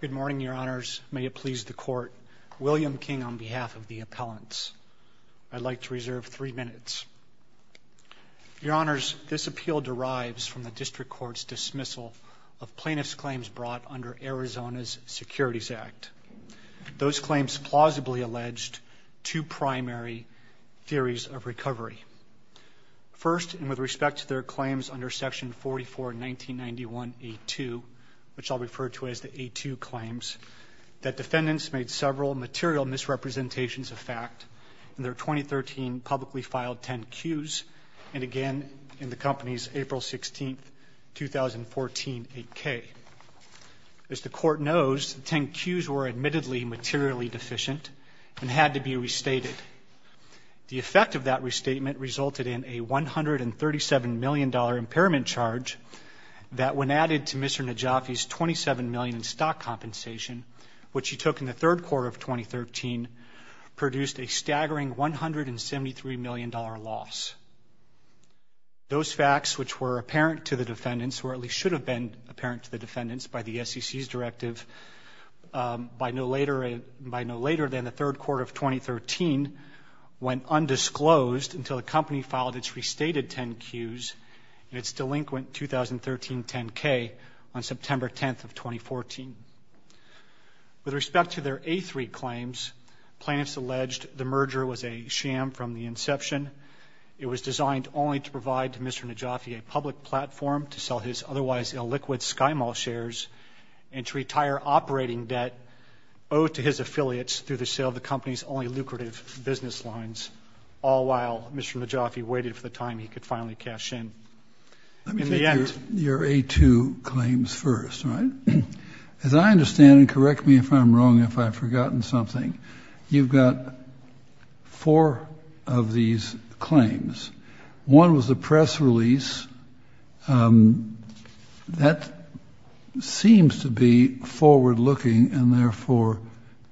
Good morning, Your Honors. May it please the Court, William King, on behalf of the appellants. I'd like to reserve three minutes. Your Honors, this appeal derives from the District Court's dismissal of plaintiffs' claims brought under Arizona's Securities Act. Those claims plausibly alleged two primary theories of recovery. First, and with respect to their claims under Section 44-1991A2, which I'll refer to as the A2 claims, that defendants made several material misrepresentations of fact in their 2013 publicly filed 10Qs, and again in the company's April 16, 2014, 8K. As the Court knows, the 10Qs were admittedly materially deficient and had to be restated. The effect of that restatement resulted in a $137 million impairment charge that, when added to Mr. Najafi's $27 million in stock compensation, which he took in the third quarter of 2013, produced a staggering $173 million loss. Those facts, which were apparent to the defendants, or at least should have been apparent to the defendants, by the SEC's directive, by no later than the third quarter of 2013, went undisclosed until the company filed its restated 10Qs in its delinquent 2013 10K on September 10, 2014. With respect to their A3 claims, plaintiffs alleged the merger was a sham from the inception. It was designed only to provide to Mr. Najafi a public platform to sell his otherwise illiquid SkyMall shares and to retire operating debt owed to his affiliates through the sale of the company's only lucrative business lines, all while Mr. Najafi waited for the time he could finally cash in. In the end — Let me take your A2 claims first, all right? As I understand, and correct me if I'm wrong, if I've forgotten something, you've got four of these claims. One was the press release. That seems to be forward-looking and, therefore,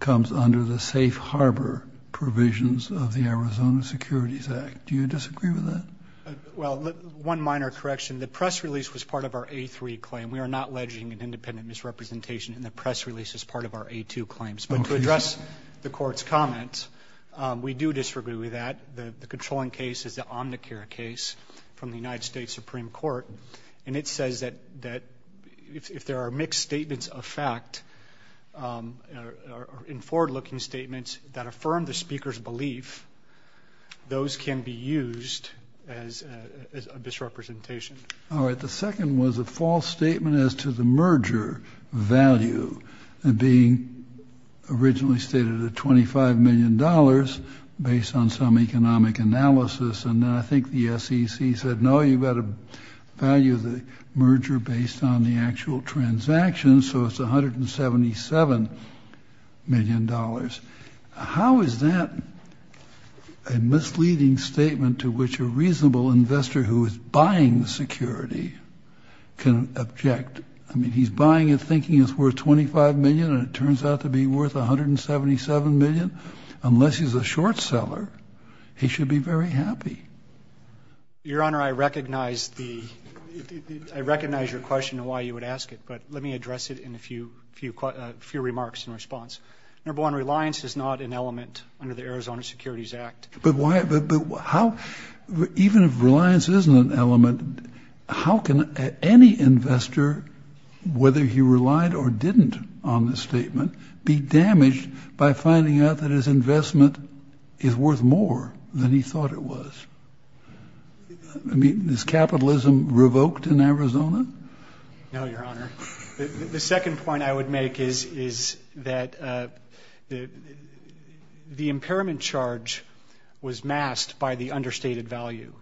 comes under the safe harbor provisions of the Arizona Securities Act. Do you disagree with that? Well, one minor correction. The press release was part of our A3 claim. We are not alleging an independent misrepresentation in the press release as part of our A2 claims. But to address the Court's comments, we do disagree with that. The controlling case is the Omnicare case from the United States Supreme Court, and it says that if there are mixed statements of fact in forward-looking statements that affirm the speaker's belief, those can be used as a misrepresentation. All right. The second was a false statement as to the merger value, being originally stated at $25 million based on some economic analysis. And then I think the SEC said, no, you've got to value the merger based on the actual transaction, so it's $177 million. How is that a misleading statement to which a reasonable investor who is buying the security can object? I mean, he's buying it thinking it's worth $25 million and it turns out to be worth $177 million? Unless he's a short seller, he should be very happy. Your Honor, I recognize your question and why you would ask it, but let me address it in a few remarks in response. Number one, reliance is not an element under the Arizona Securities Act. But even if reliance isn't an element, how can any investor, whether he relied or didn't on this statement, be damaged by finding out that his investment is worth more than he thought it was? I mean, is capitalism revoked in Arizona? No, Your Honor. The second point I would make is that the impairment charge was masked by the understated value.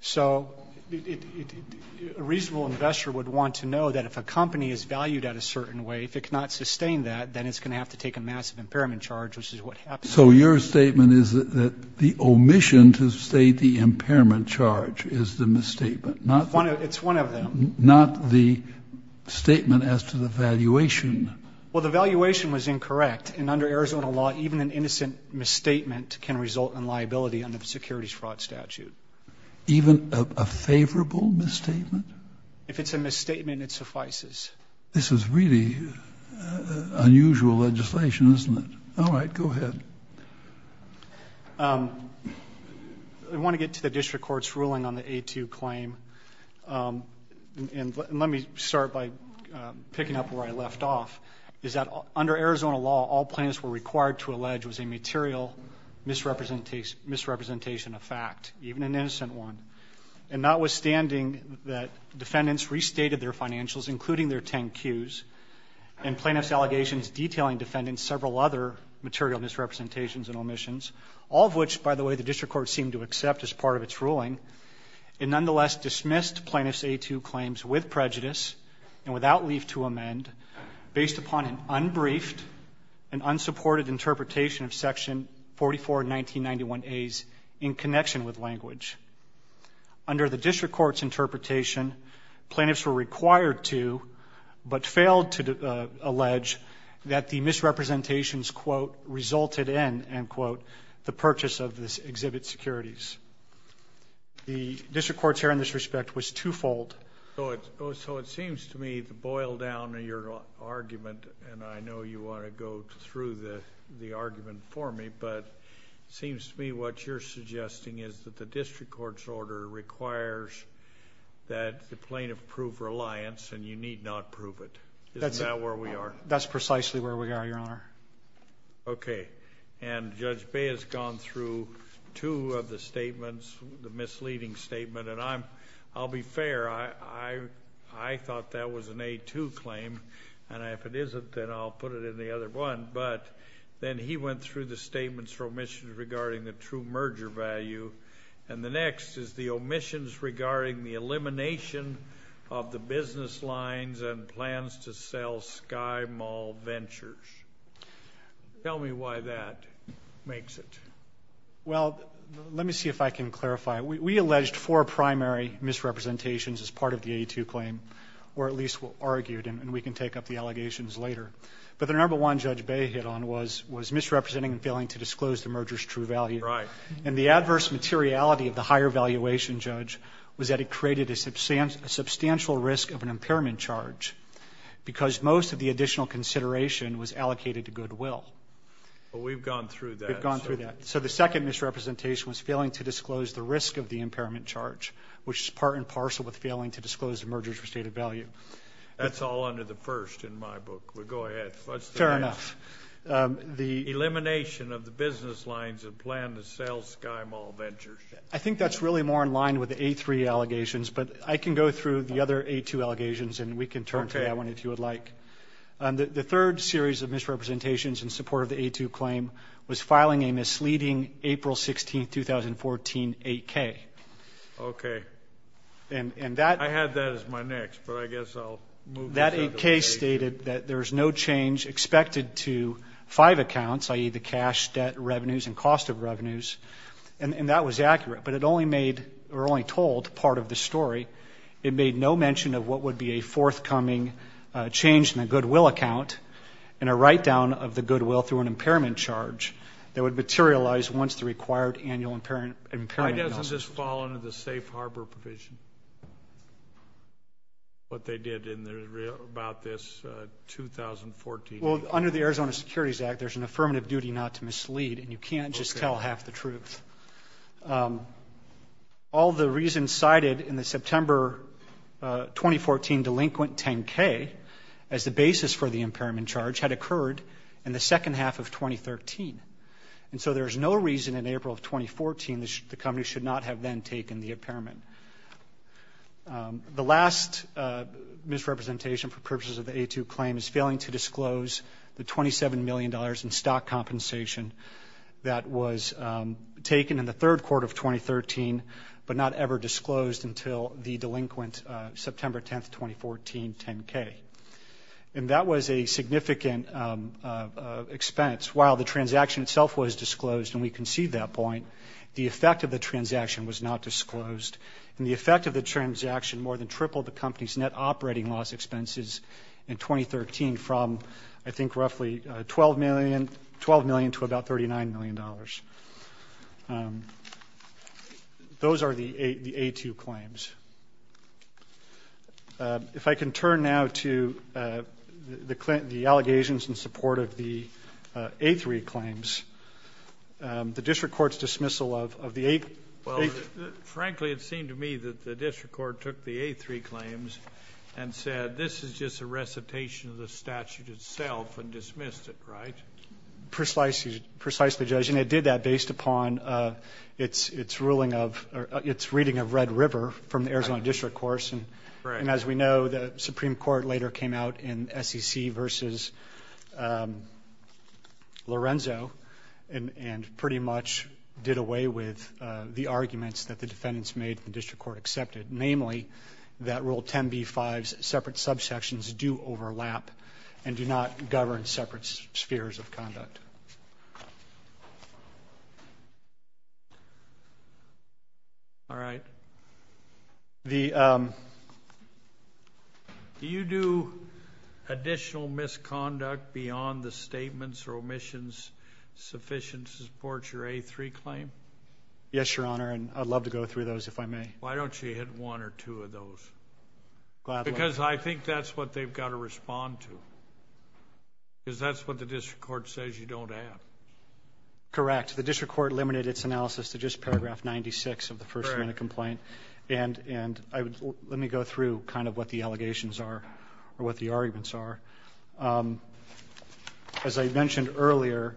So a reasonable investor would want to know that if a company is valued at a certain way, if it cannot sustain that, then it's going to have to take a massive impairment charge, which is what happened. So your statement is that the omission to state the impairment charge is the misstatement? It's one of them. Not the statement as to the valuation? Well, the valuation was incorrect. And under Arizona law, even an innocent misstatement can result in liability under the securities fraud statute. Even a favorable misstatement? If it's a misstatement, it suffices. This is really unusual legislation, isn't it? All right, go ahead. I want to get to the district court's ruling on the A2 claim. And let me start by picking up where I left off, is that under Arizona law all plaintiffs were required to allege was a material misrepresentation of fact, even an innocent one. And notwithstanding that defendants restated their financials, including their 10Qs, and plaintiffs' allegations detailing defendants' several other material misrepresentations and omissions, all of which, by the way, the district court seemed to accept as part of its ruling, it nonetheless dismissed plaintiffs' A2 claims with prejudice and without leave to amend, based upon an unbriefed and unsupported interpretation of Section 44 of 1991As in connection with language. Under the district court's interpretation, plaintiffs were required to, but failed to allege that the misrepresentations, quote, resulted in, end quote, the purchase of this exhibit securities. The district court's hearing in this respect was twofold. So it seems to me the boil down of your argument, and I know you want to go through the argument for me, but it seems to me what you're suggesting is that the district court's order requires that the plaintiff prove reliance, and you need not prove it. Isn't that where we are? That's precisely where we are, Your Honor. Okay. And Judge Bay has gone through two of the statements, the misleading statement, and I'll be fair. I thought that was an A2 claim, and if it isn't, then I'll put it in the other one. But then he went through the statements for omissions regarding the true merger value, and the next is the omissions regarding the elimination of the business lines and plans to sell SkyMall Ventures. Tell me why that makes it. Well, let me see if I can clarify. We alleged four primary misrepresentations as part of the A2 claim, or at least argued, and we can take up the allegations later. But the number one Judge Bay hit on was misrepresenting and failing to disclose the merger's true value. Right. And the adverse materiality of the higher valuation judge was that it created a substantial risk of an impairment charge because most of the additional consideration was allocated to goodwill. But we've gone through that. We've gone through that. So the second misrepresentation was failing to disclose the risk of the impairment charge, which is part and parcel with failing to disclose the merger's restated value. That's all under the first in my book. Well, go ahead. Fair enough. Elimination of the business lines and plan to sell SkyMall Ventures. I think that's really more in line with the A3 allegations, but I can go through the other A2 allegations, and we can turn to that one if you would like. The third series of misrepresentations in support of the A2 claim was filing a misleading April 16, 2014, 8K. Okay. I have that as my next, but I guess I'll move this out of the way. The A3 stated that there's no change expected to five accounts, i.e., the cash, debt, revenues, and cost of revenues, and that was accurate, but it only made or only told part of the story. It made no mention of what would be a forthcoming change in the goodwill account and a write-down of the goodwill through an impairment charge that would materialize once the required annual impairment Why doesn't this fall under the safe harbor provision, what they did about this 2014? Well, under the Arizona Securities Act, there's an affirmative duty not to mislead, and you can't just tell half the truth. All the reasons cited in the September 2014 delinquent 10K as the basis for the impairment charge had occurred in the second half of 2013. And so there's no reason in April of 2014 the company should not have then taken the impairment. The last misrepresentation for purposes of the A2 claim is failing to disclose the $27 million in stock compensation that was taken in the third quarter of 2013 but not ever disclosed until the delinquent September 10, 2014, 10K. And that was a significant expense. While the transaction itself was disclosed, and we concede that point, the effect of the transaction was not disclosed, and the effect of the transaction more than tripled the company's net operating loss expenses in 2013 from, I think, roughly $12 million to about $39 million. Those are the A2 claims. If I can turn now to the allegations in support of the A3 claims, the district court's dismissal of the A3. Well, frankly, it seemed to me that the district court took the A3 claims and said, this is just a recitation of the statute itself and dismissed it, right? Precisely, Judge. And it did that based upon its ruling of or its reading of Red River from the Arizona district court. And as we know, the Supreme Court later came out in SEC versus Lorenzo and pretty much did away with the arguments that the defendants made and the district court accepted, namely that Rule 10b-5's separate subsections do overlap and do not govern separate spheres of conduct. All right. Do you do additional misconduct beyond the statements or omissions sufficient to support your A3 claim? Yes, Your Honor, and I'd love to go through those if I may. Why don't you hit one or two of those? Because I think that's what they've got to respond to, because that's what the district court says you don't have. Correct. The district court eliminated its analysis to just paragraph 96 of the first amendment complaint. And let me go through kind of what the allegations are or what the arguments are. As I mentioned earlier,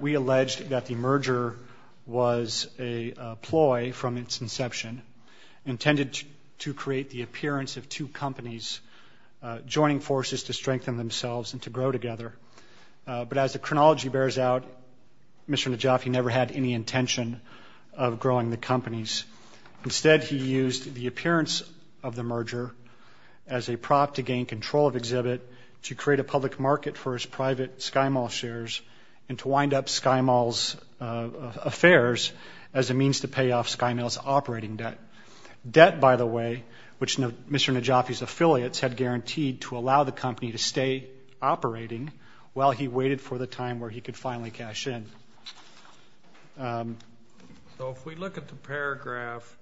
we alleged that the merger was a ploy from its inception, intended to create the appearance of two companies joining forces to strengthen themselves and to grow together. But as the chronology bears out, Mr. Najafi never had any intention of growing the companies. Instead, he used the appearance of the merger as a prop to gain control of Exhibit, to create a public market for his private SkyMall shares, and to wind up SkyMall's affairs as a means to pay off SkyMall's operating debt. Debt, by the way, which Mr. Najafi's affiliates had guaranteed to allow the company to stay operating while he waited for the time where he could finally cash in. So if we look at the paragraph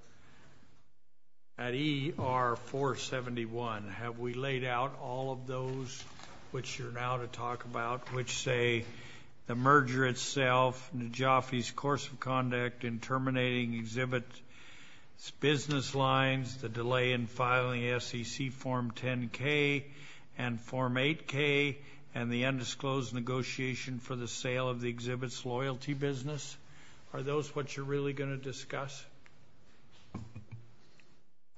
at ER 471, have we laid out all of those which you're now to talk about, which say the merger itself, Najafi's course of conduct in terminating Exhibit's business lines, the delay in filing SEC Form 10-K and Form 8-K, and the undisclosed negotiation for the sale of the Exhibit's loyalty business? Are those what you're really going to discuss?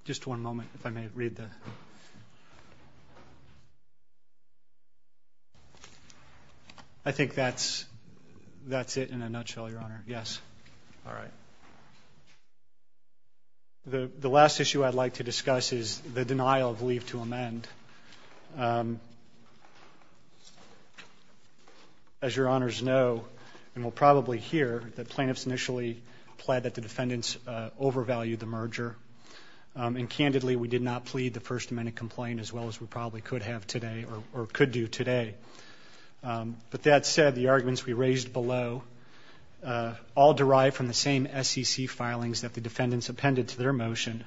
Just one moment, if I may read that. I think that's it in a nutshell, Your Honor. Yes. All right. The last issue I'd like to discuss is the denial of leave to amend. As Your Honors know, and will probably hear, that plaintiffs initially pled that the defendants overvalued the merger, and candidly we did not plead the First Amendment complaint as well as we probably could have today or could do today. But that said, the arguments we raised below all derive from the same SEC filings that the defendants appended to their motion.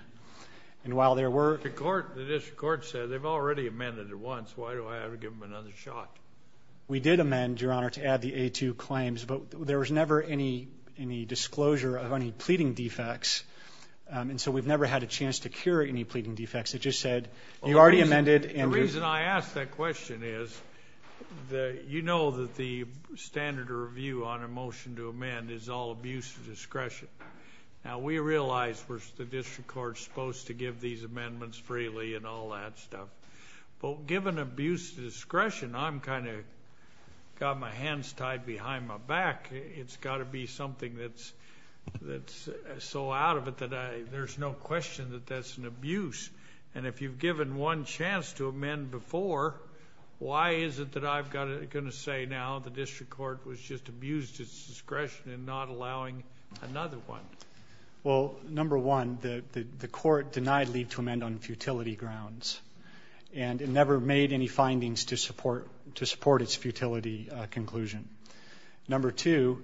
And while there were ---- The district court said they've already amended it once. Why do I have to give them another shot? We did amend, Your Honor, to add the A-2 claims, but there was never any disclosure of any pleading defects, and so we've never had a chance to cure any pleading defects. It just said you already amended and ---- You know that the standard of review on a motion to amend is all abuse of discretion. Now, we realize the district court is supposed to give these amendments freely and all that stuff. But given abuse of discretion, I'm kind of got my hands tied behind my back. It's got to be something that's so out of it that there's no question that that's an abuse. And if you've given one chance to amend before, why is it that I've got to say now the district court was just abused its discretion in not allowing another one? Well, number one, the court denied leave to amend on futility grounds, and it never made any findings to support its futility conclusion. Number two,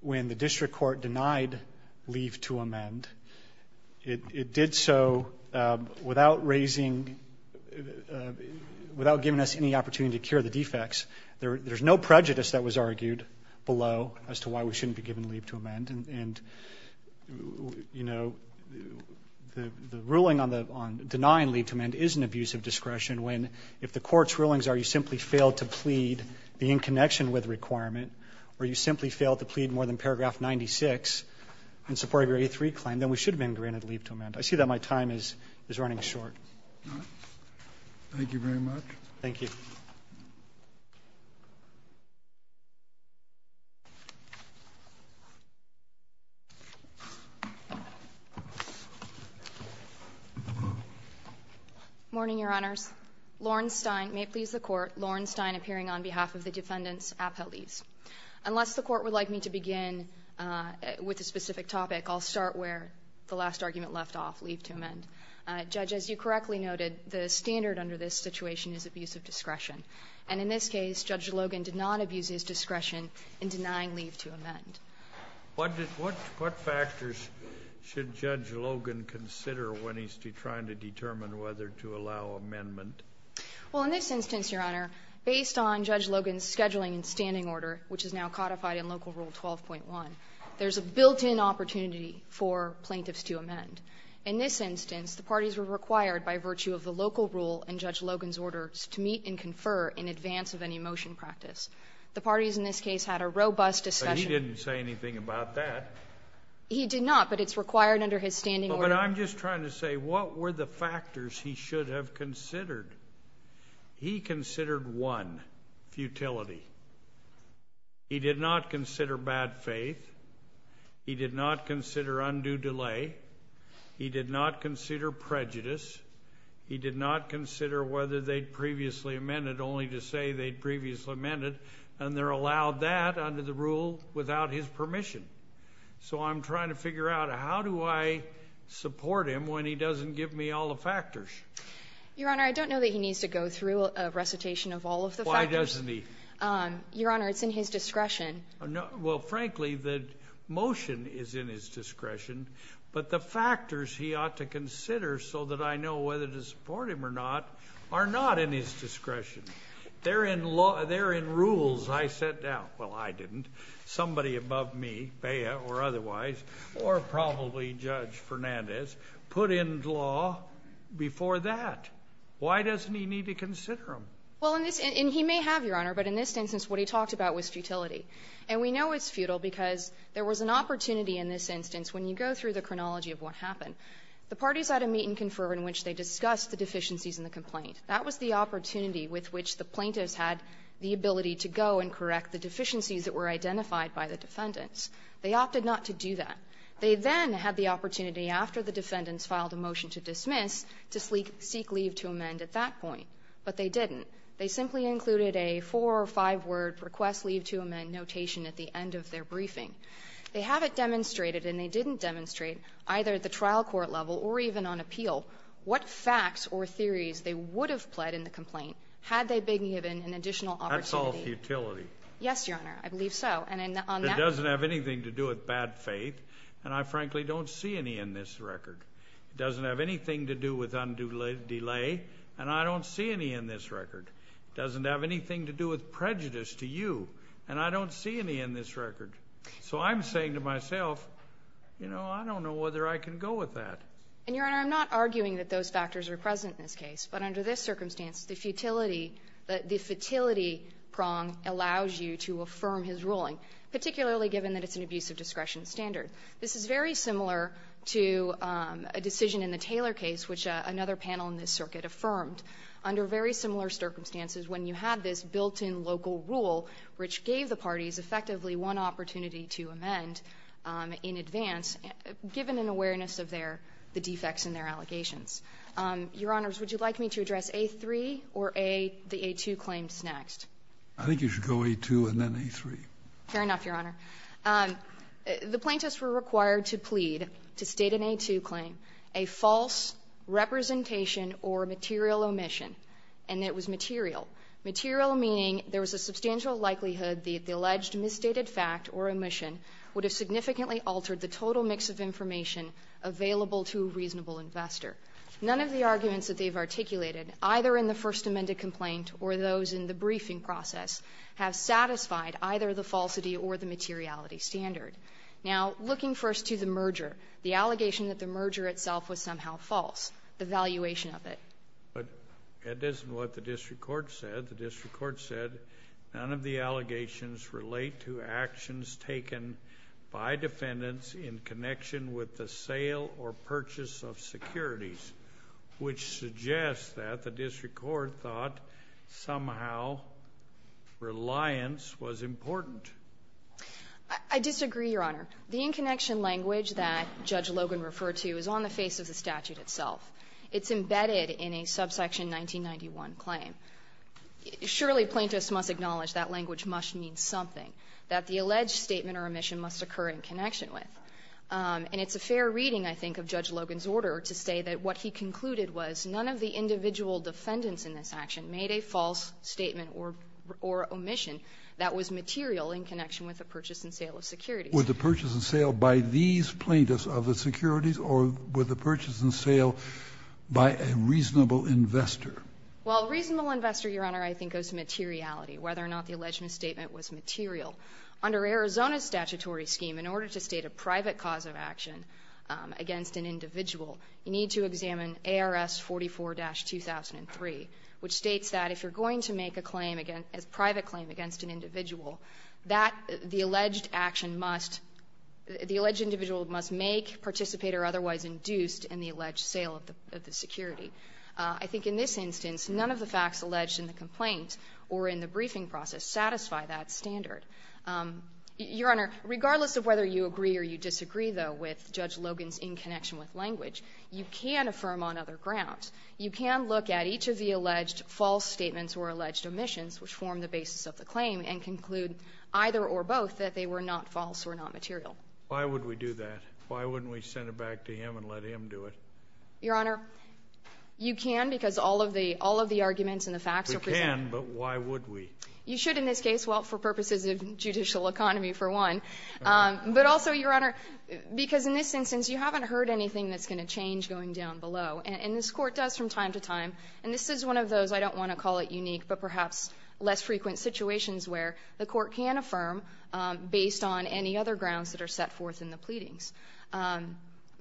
when the district court denied leave to amend, it did so without raising ---- without giving us any opportunity to cure the defects. There's no prejudice that was argued below as to why we shouldn't be given leave to amend. And, you know, the ruling on denying leave to amend is an abuse of discretion when, if the court's rulings are you simply failed to plead the in connection with requirement, or you simply failed to plead more than paragraph 96 in support of your A3 claim, then we should have been granted leave to amend. I see that my time is running short. All right. Thank you very much. Thank you. Morning, Your Honors. Lauren Stein, may it please the Court, Lauren Stein, appearing on behalf of the defendants, appellees. Unless the Court would like me to begin with a specific topic, I'll start where the last argument left off, leave to amend. Judge, as you correctly noted, the standard under this situation is abuse of discretion. And in this case, Judge Logan did not abuse his discretion in denying leave to amend. What factors should Judge Logan consider when he's trying to determine whether to allow amendment? Well, in this instance, Your Honor, based on Judge Logan's scheduling and standing order, which is now codified in local rule 12.1, there's a built-in opportunity for plaintiffs to amend. In this instance, the parties were required by virtue of the local rule and Judge Logan was required to confer in advance of any motion practice. The parties in this case had a robust discussion. But he didn't say anything about that. He did not, but it's required under his standing order. But I'm just trying to say, what were the factors he should have considered? He considered one, futility. He did not consider bad faith. He did not consider undue delay. He did not consider prejudice. He did not consider whether they'd previously amended, only to say they'd previously amended. And they're allowed that under the rule without his permission. So I'm trying to figure out, how do I support him when he doesn't give me all the factors? Your Honor, I don't know that he needs to go through a recitation of all of the factors. Why doesn't he? Your Honor, it's in his discretion. Well, frankly, the motion is in his discretion. But the factors he ought to consider so that I know whether to support him or not are not in his discretion. They're in rules I set down. Well, I didn't. Somebody above me, Baya or otherwise, or probably Judge Fernandez, put in law before that. Why doesn't he need to consider them? Well, and he may have, Your Honor, but in this instance, what he talked about was futility. And we know it's futile because there was an opportunity in this instance, when you go through the chronology of what happened, the parties had a meet-and-confirm in which they discussed the deficiencies in the complaint. That was the opportunity with which the plaintiffs had the ability to go and correct the deficiencies that were identified by the defendants. They opted not to do that. They then had the opportunity, after the defendants filed a motion to dismiss, to seek leave to amend at that point. But they didn't. They simply included a four- or five-word request leave to amend notation at the end of their briefing. They haven't demonstrated, and they didn't demonstrate, either at the trial court level or even on appeal, what facts or theories they would have pled in the complaint had they been given an additional opportunity. That's all futility. Yes, Your Honor. I believe so. It doesn't have anything to do with bad faith, and I frankly don't see any in this record. It doesn't have anything to do with undue delay, and I don't see any in this record. It doesn't have anything to do with prejudice to you, and I don't see any in this case. So I'm saying to myself, you know, I don't know whether I can go with that. And, Your Honor, I'm not arguing that those factors are present in this case. But under this circumstance, the futility prong allows you to affirm his ruling, particularly given that it's an abuse of discretion standard. This is very similar to a decision in the Taylor case, which another panel in this circuit affirmed. Under very similar circumstances, when you had this built-in local rule, which gave the parties effectively one opportunity to amend in advance, given an awareness of their the defects in their allegations. Your Honors, would you like me to address A-3 or the A-2 claims next? I think you should go A-2 and then A-3. Fair enough, Your Honor. The plaintiffs were required to plead to state an A-2 claim, a false representation or material omission, and it was material. Material meaning there was a substantial likelihood that the alleged misstated fact or omission would have significantly altered the total mix of information available to a reasonable investor. None of the arguments that they've articulated, either in the First Amendment complaint or those in the briefing process, have satisfied either the falsity or the materiality standard. Now, looking first to the merger, the allegation that the merger itself was somehow false, the valuation of it. But it isn't what the district court said. The district court said none of the allegations relate to actions taken by defendants in connection with the sale or purchase of securities, which suggests that the district court thought somehow reliance was important. I disagree, Your Honor. The in-connection language that Judge Logan referred to is on the face of the statute itself. It's embedded in a subsection 1991 claim. Surely, plaintiffs must acknowledge that language must mean something, that the alleged statement or omission must occur in connection with. And it's a fair reading, I think, of Judge Logan's order to say that what he concluded was none of the individual defendants in this action made a false statement or omission that was material in connection with the purchase and sale of securities. Would the purchase and sale by these plaintiffs of the securities or would the purchase and sale by a reasonable investor? Well, a reasonable investor, Your Honor, I think, goes to materiality, whether or not the alleged misstatement was material. Under Arizona's statutory scheme, in order to state a private cause of action against an individual, you need to examine ARS 44-2003, which states that if you're going to make a claim against, a private claim against an individual, that the alleged action must, the alleged individual must make, participate, or otherwise induce in the alleged sale of the security. I think in this instance, none of the facts alleged in the complaint or in the briefing process satisfy that standard. Your Honor, regardless of whether you agree or you disagree, though, with Judge Logan's in-connection with language, you can affirm on other grounds. You can look at each of the alleged false statements or alleged omissions, which form the basis of the claim, and conclude either or both that they were not false or not material. Why would we do that? Why wouldn't we send it back to him and let him do it? Your Honor, you can because all of the arguments and the facts are presented. We can, but why would we? You should in this case, well, for purposes of judicial economy, for one. But also, Your Honor, because in this instance, you haven't heard anything that's going to change going down below. And this Court does from time to time. And this is one of those, I don't want to call it unique, but perhaps less frequent situations where the Court can affirm based on any other grounds that are set forth in the pleadings.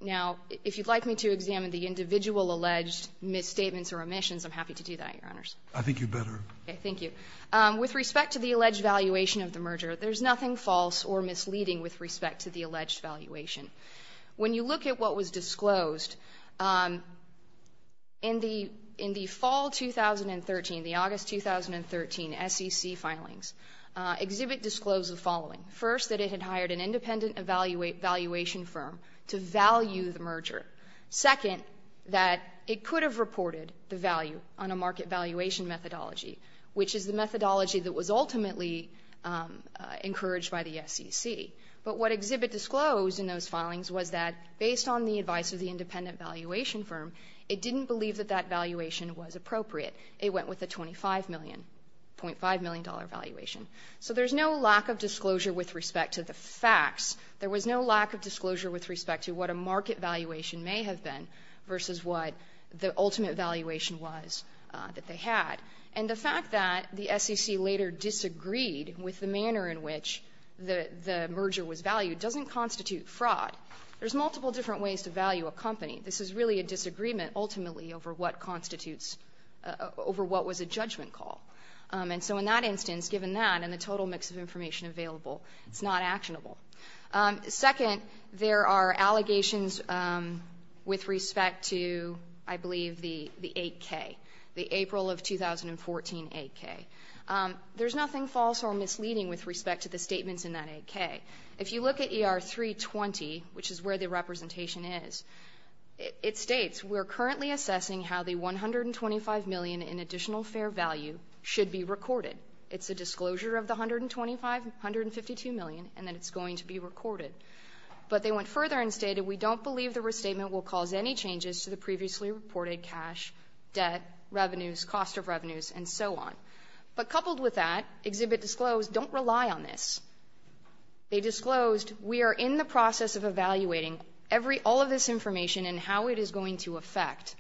Now, if you'd like me to examine the individual alleged misstatements or omissions, I'm happy to do that, Your Honors. I think you'd better. Okay. Thank you. With respect to the alleged valuation of the merger, there's nothing false or misleading with respect to the alleged valuation. When you look at what was disclosed, in the fall 2013, the August 2013 SEC filings, Exhibit disclosed the following. First, that it had hired an independent valuation firm to value the merger. Second, that it could have reported the value on a market valuation methodology, which is the methodology that was ultimately encouraged by the SEC. But what Exhibit disclosed in those filings was that, based on the advice of the independent valuation firm, it didn't believe that that valuation was appropriate. It went with a $25.5 million valuation. So there's no lack of disclosure with respect to the facts. There was no lack of disclosure with respect to what a market valuation may have been versus what the ultimate valuation was that they had. And the fact that the SEC later disagreed with the manner in which the merger was valued doesn't constitute fraud. There's multiple different ways to value a company. This is really a disagreement, ultimately, over what constitutes, over what was a judgment call. And so in that instance, given that and the total mix of information available, it's not actionable. Second, there are allegations with respect to, I believe, the 8K, the April of 2014 8K. There's nothing false or misleading with respect to the statements in that 8K. If you look at ER 320, which is where the representation is, it states, we're currently assessing how the $125 million in additional fair value should be recorded. It's a disclosure of the $125 million, $152 million, and that it's going to be recorded. But they went further and stated, we don't believe the restatement will cause any changes to the previously reported cash, debt, revenues, cost of revenues, and so on. But coupled with that, Exhibit Disclosed don't rely on this. They disclosed, we are in the process of evaluating all of this information and how it is going to affect.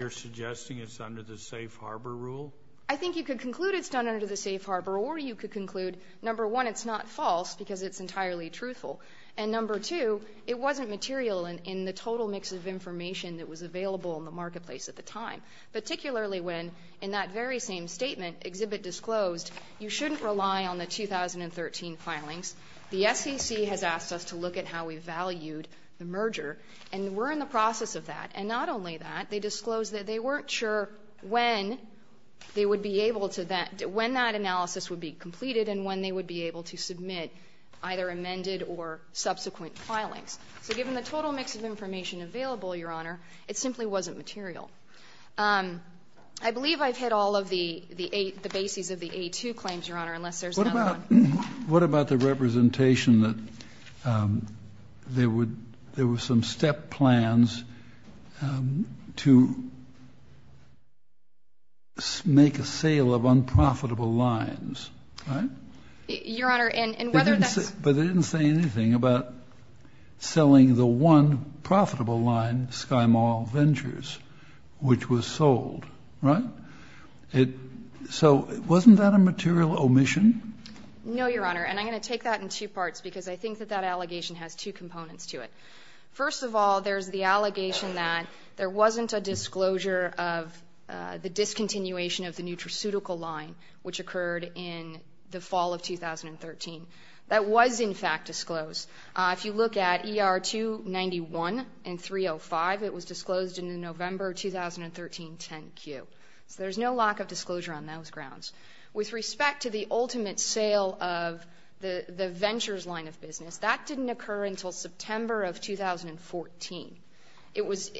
You're suggesting it's under the safe harbor rule? I think you could conclude it's done under the safe harbor, or you could conclude, number one, it's not false because it's entirely truthful. And number two, it wasn't material in the total mix of information that was available in the marketplace at the time, particularly when in that very same statement, Exhibit Disclosed, you shouldn't rely on the 2013 filings. The SEC has asked us to look at how we valued the merger, and we're in the process of that. And not only that, they disclosed that they weren't sure when they would be able to, when that analysis would be completed and when they would be able to submit either amended or subsequent filings. So given the total mix of information available, Your Honor, it simply wasn't material. I believe I've hit all of the bases of the A2 claims, Your Honor, unless there's another one. What about the representation that there were some step plans to make a sale of unprofitable lines, right? Your Honor, and whether that's But they didn't say anything about selling the one profitable line, SkyMall Ventures, which was sold, right? So wasn't that a material omission? No, Your Honor. And I'm going to take that in two parts, because I think that that allegation has two components to it. First of all, there's the allegation that there wasn't a disclosure of the discontinuation of the nutraceutical line, which occurred in the fall of 2013. That was, in fact, disclosed. If you look at ER 291 and 305, it was disclosed in the November 2013 10Q. So there's no lack of disclosure on those grounds. With respect to the ultimate sale of the Ventures line of business, that didn't occur until September of 2014. It was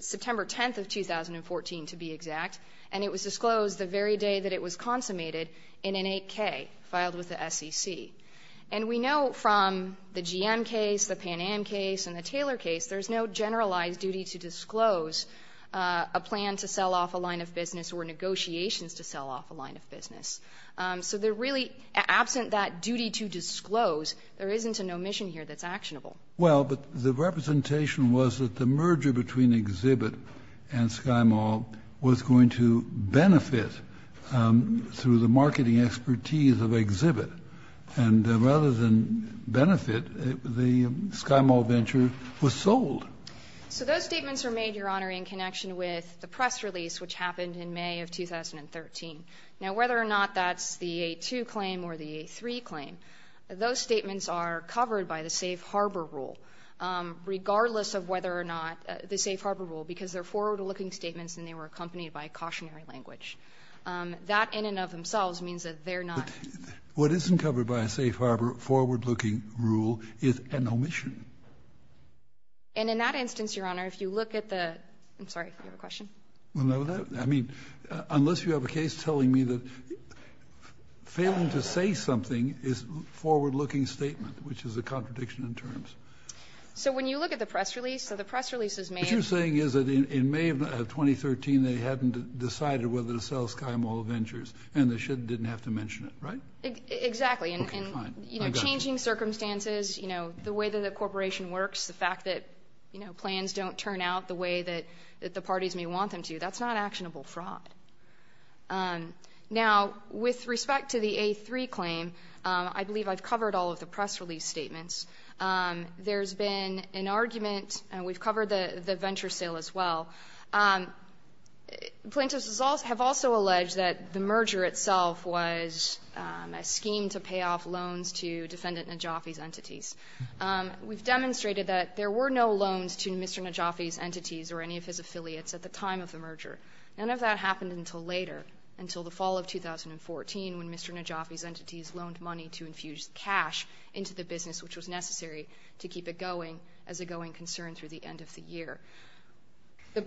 September 10th of 2014, to be exact, and it was disclosed the very day that it was consummated in an 8K filed with the SEC. And we know from the GM case, the Pan Am case, and the Taylor case, there's no negotiations to sell off a line of business. So there really, absent that duty to disclose, there isn't an omission here that's actionable. Well, but the representation was that the merger between Exhibit and SkyMall was going to benefit through the marketing expertise of Exhibit. And rather than benefit, the SkyMall Venture was sold. So those statements were made, Your Honor, in connection with the press release, which happened in May of 2013. Now, whether or not that's the 8-2 claim or the 8-3 claim, those statements are covered by the safe harbor rule, regardless of whether or not the safe harbor rule, because they're forward-looking statements and they were accompanied by cautionary language. That in and of themselves means that they're not. What isn't covered by a safe harbor forward-looking rule is an omission. And in that instance, Your Honor, if you look at the... I'm sorry, you have a question? Well, no. I mean, unless you have a case telling me that failing to say something is a forward-looking statement, which is a contradiction in terms. So when you look at the press release, the press release is made... What you're saying is that in May of 2013, they hadn't decided whether to sell SkyMall Ventures, and they didn't have to mention it, right? Exactly. Okay, fine. I got you. Under the same circumstances, you know, the way that the corporation works, the fact that, you know, plans don't turn out the way that the parties may want them to, that's not actionable fraud. Now, with respect to the 8-3 claim, I believe I've covered all of the press release statements. There's been an argument, and we've covered the venture sale as well. Plaintiffs have also alleged that the merger itself was a scheme to pay off loans to defendant Najafi's entities. We've demonstrated that there were no loans to Mr. Najafi's entities or any of his affiliates at the time of the merger. None of that happened until later, until the fall of 2014, when Mr. Najafi's entities loaned money to infuse cash into the business, which was necessary to keep it going as a going concern through the end of the year. The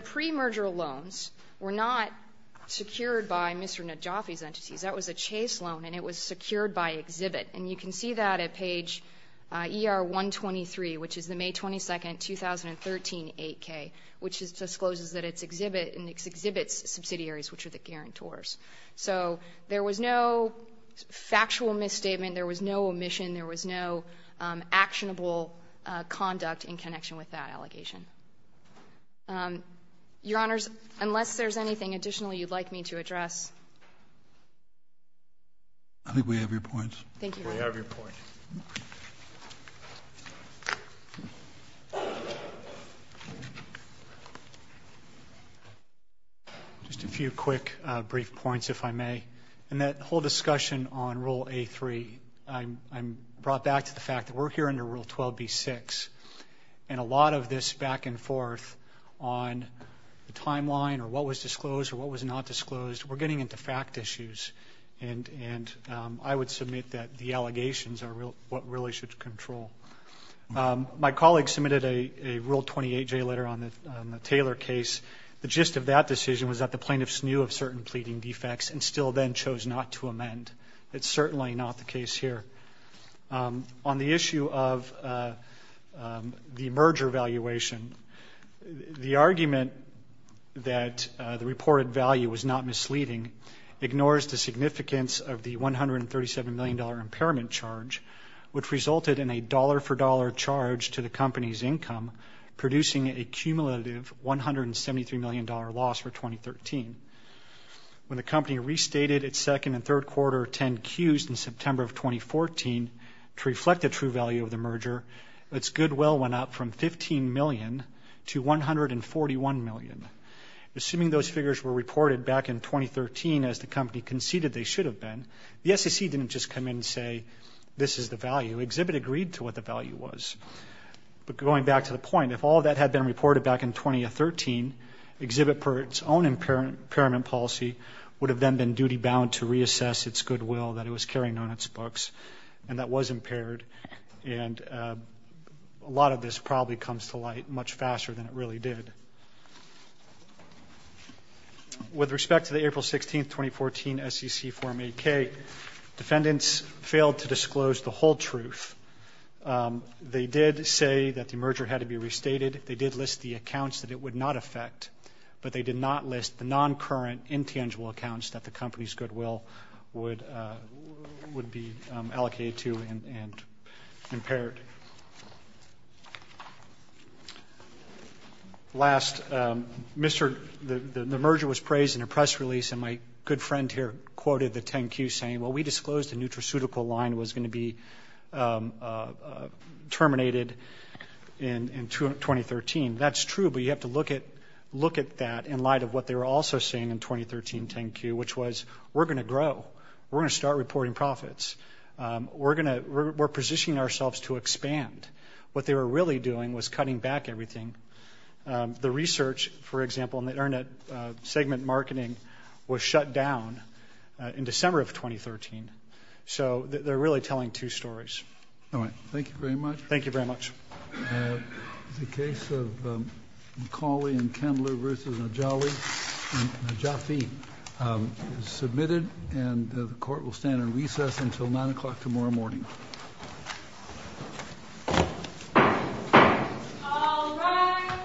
pre-merger loans were not secured by Mr. Najafi's entities. That was a chase loan, and it was secured by Exhibit. And you can see that at page ER-123, which is the May 22, 2013, 8-K, which discloses that it's Exhibit and it's Exhibit's subsidiaries, which are the guarantors. So there was no factual misstatement. There was no omission. There was no actionable conduct in connection with that allegation. Your Honors, unless there's anything additionally you'd like me to address. I think we have your points. Thank you. We have your points. Just a few quick brief points, if I may. In that whole discussion on Rule A-3, I'm brought back to the fact that we're here under Rule 12b-6. And a lot of this back and forth on the timeline or what was disclosed or what was not disclosed, we're getting into fact issues. And I would submit that the allegations are what really should control. My colleague submitted a Rule 28-J letter on the Taylor case. The gist of that decision was that the plaintiffs knew of certain pleading defects and still then chose not to amend. That's certainly not the case here. On the issue of the merger valuation, the argument that the reported value was not misleading ignores the significance of the $137 million impairment charge, which resulted in a dollar-for-dollar charge to the company's income, producing a cumulative $173 million loss for 2013. When the company restated its second and third quarter 10Qs in September of 2014 to reflect the true value of the merger, its goodwill went up from $15 million to $141 million. Assuming those figures were reported back in 2013 as the company conceded they should have been, the SEC didn't just come in and say, this is the value. Exhibit agreed to what the value was. But going back to the point, if all of that had been reported back in 2013, Exhibit, per its own impairment policy, would have then been duty-bound to reassess its goodwill that it was carrying on its books, and that was impaired. And a lot of this probably comes to light much faster than it really did. With respect to the April 16, 2014, SEC Form 8K, defendants failed to disclose the whole truth. They did say that the merger had to be restated. They did list the accounts that it would not affect, but they did not list the non-current intangible accounts that the company's goodwill would be allocated to and impaired. Last, the merger was praised in a press release, and my good friend here quoted the 10Qs saying, well, we disclosed the nutraceutical line was going to be terminated in 2013. That's true, but you have to look at that in light of what they were also saying in 2013 10Q, which was, we're going to grow. We're going to start reporting profits. We're positioning ourselves to expand. What they were really doing was cutting back everything. The research, for example, in the internet segment marketing was shut down in December of 2013. So they're really telling two stories. All right, thank you very much. Thank you very much. The case of McCauley and Kendler v. Najafi is submitted, and the court will stand in recess until 9 o'clock tomorrow morning. All rise.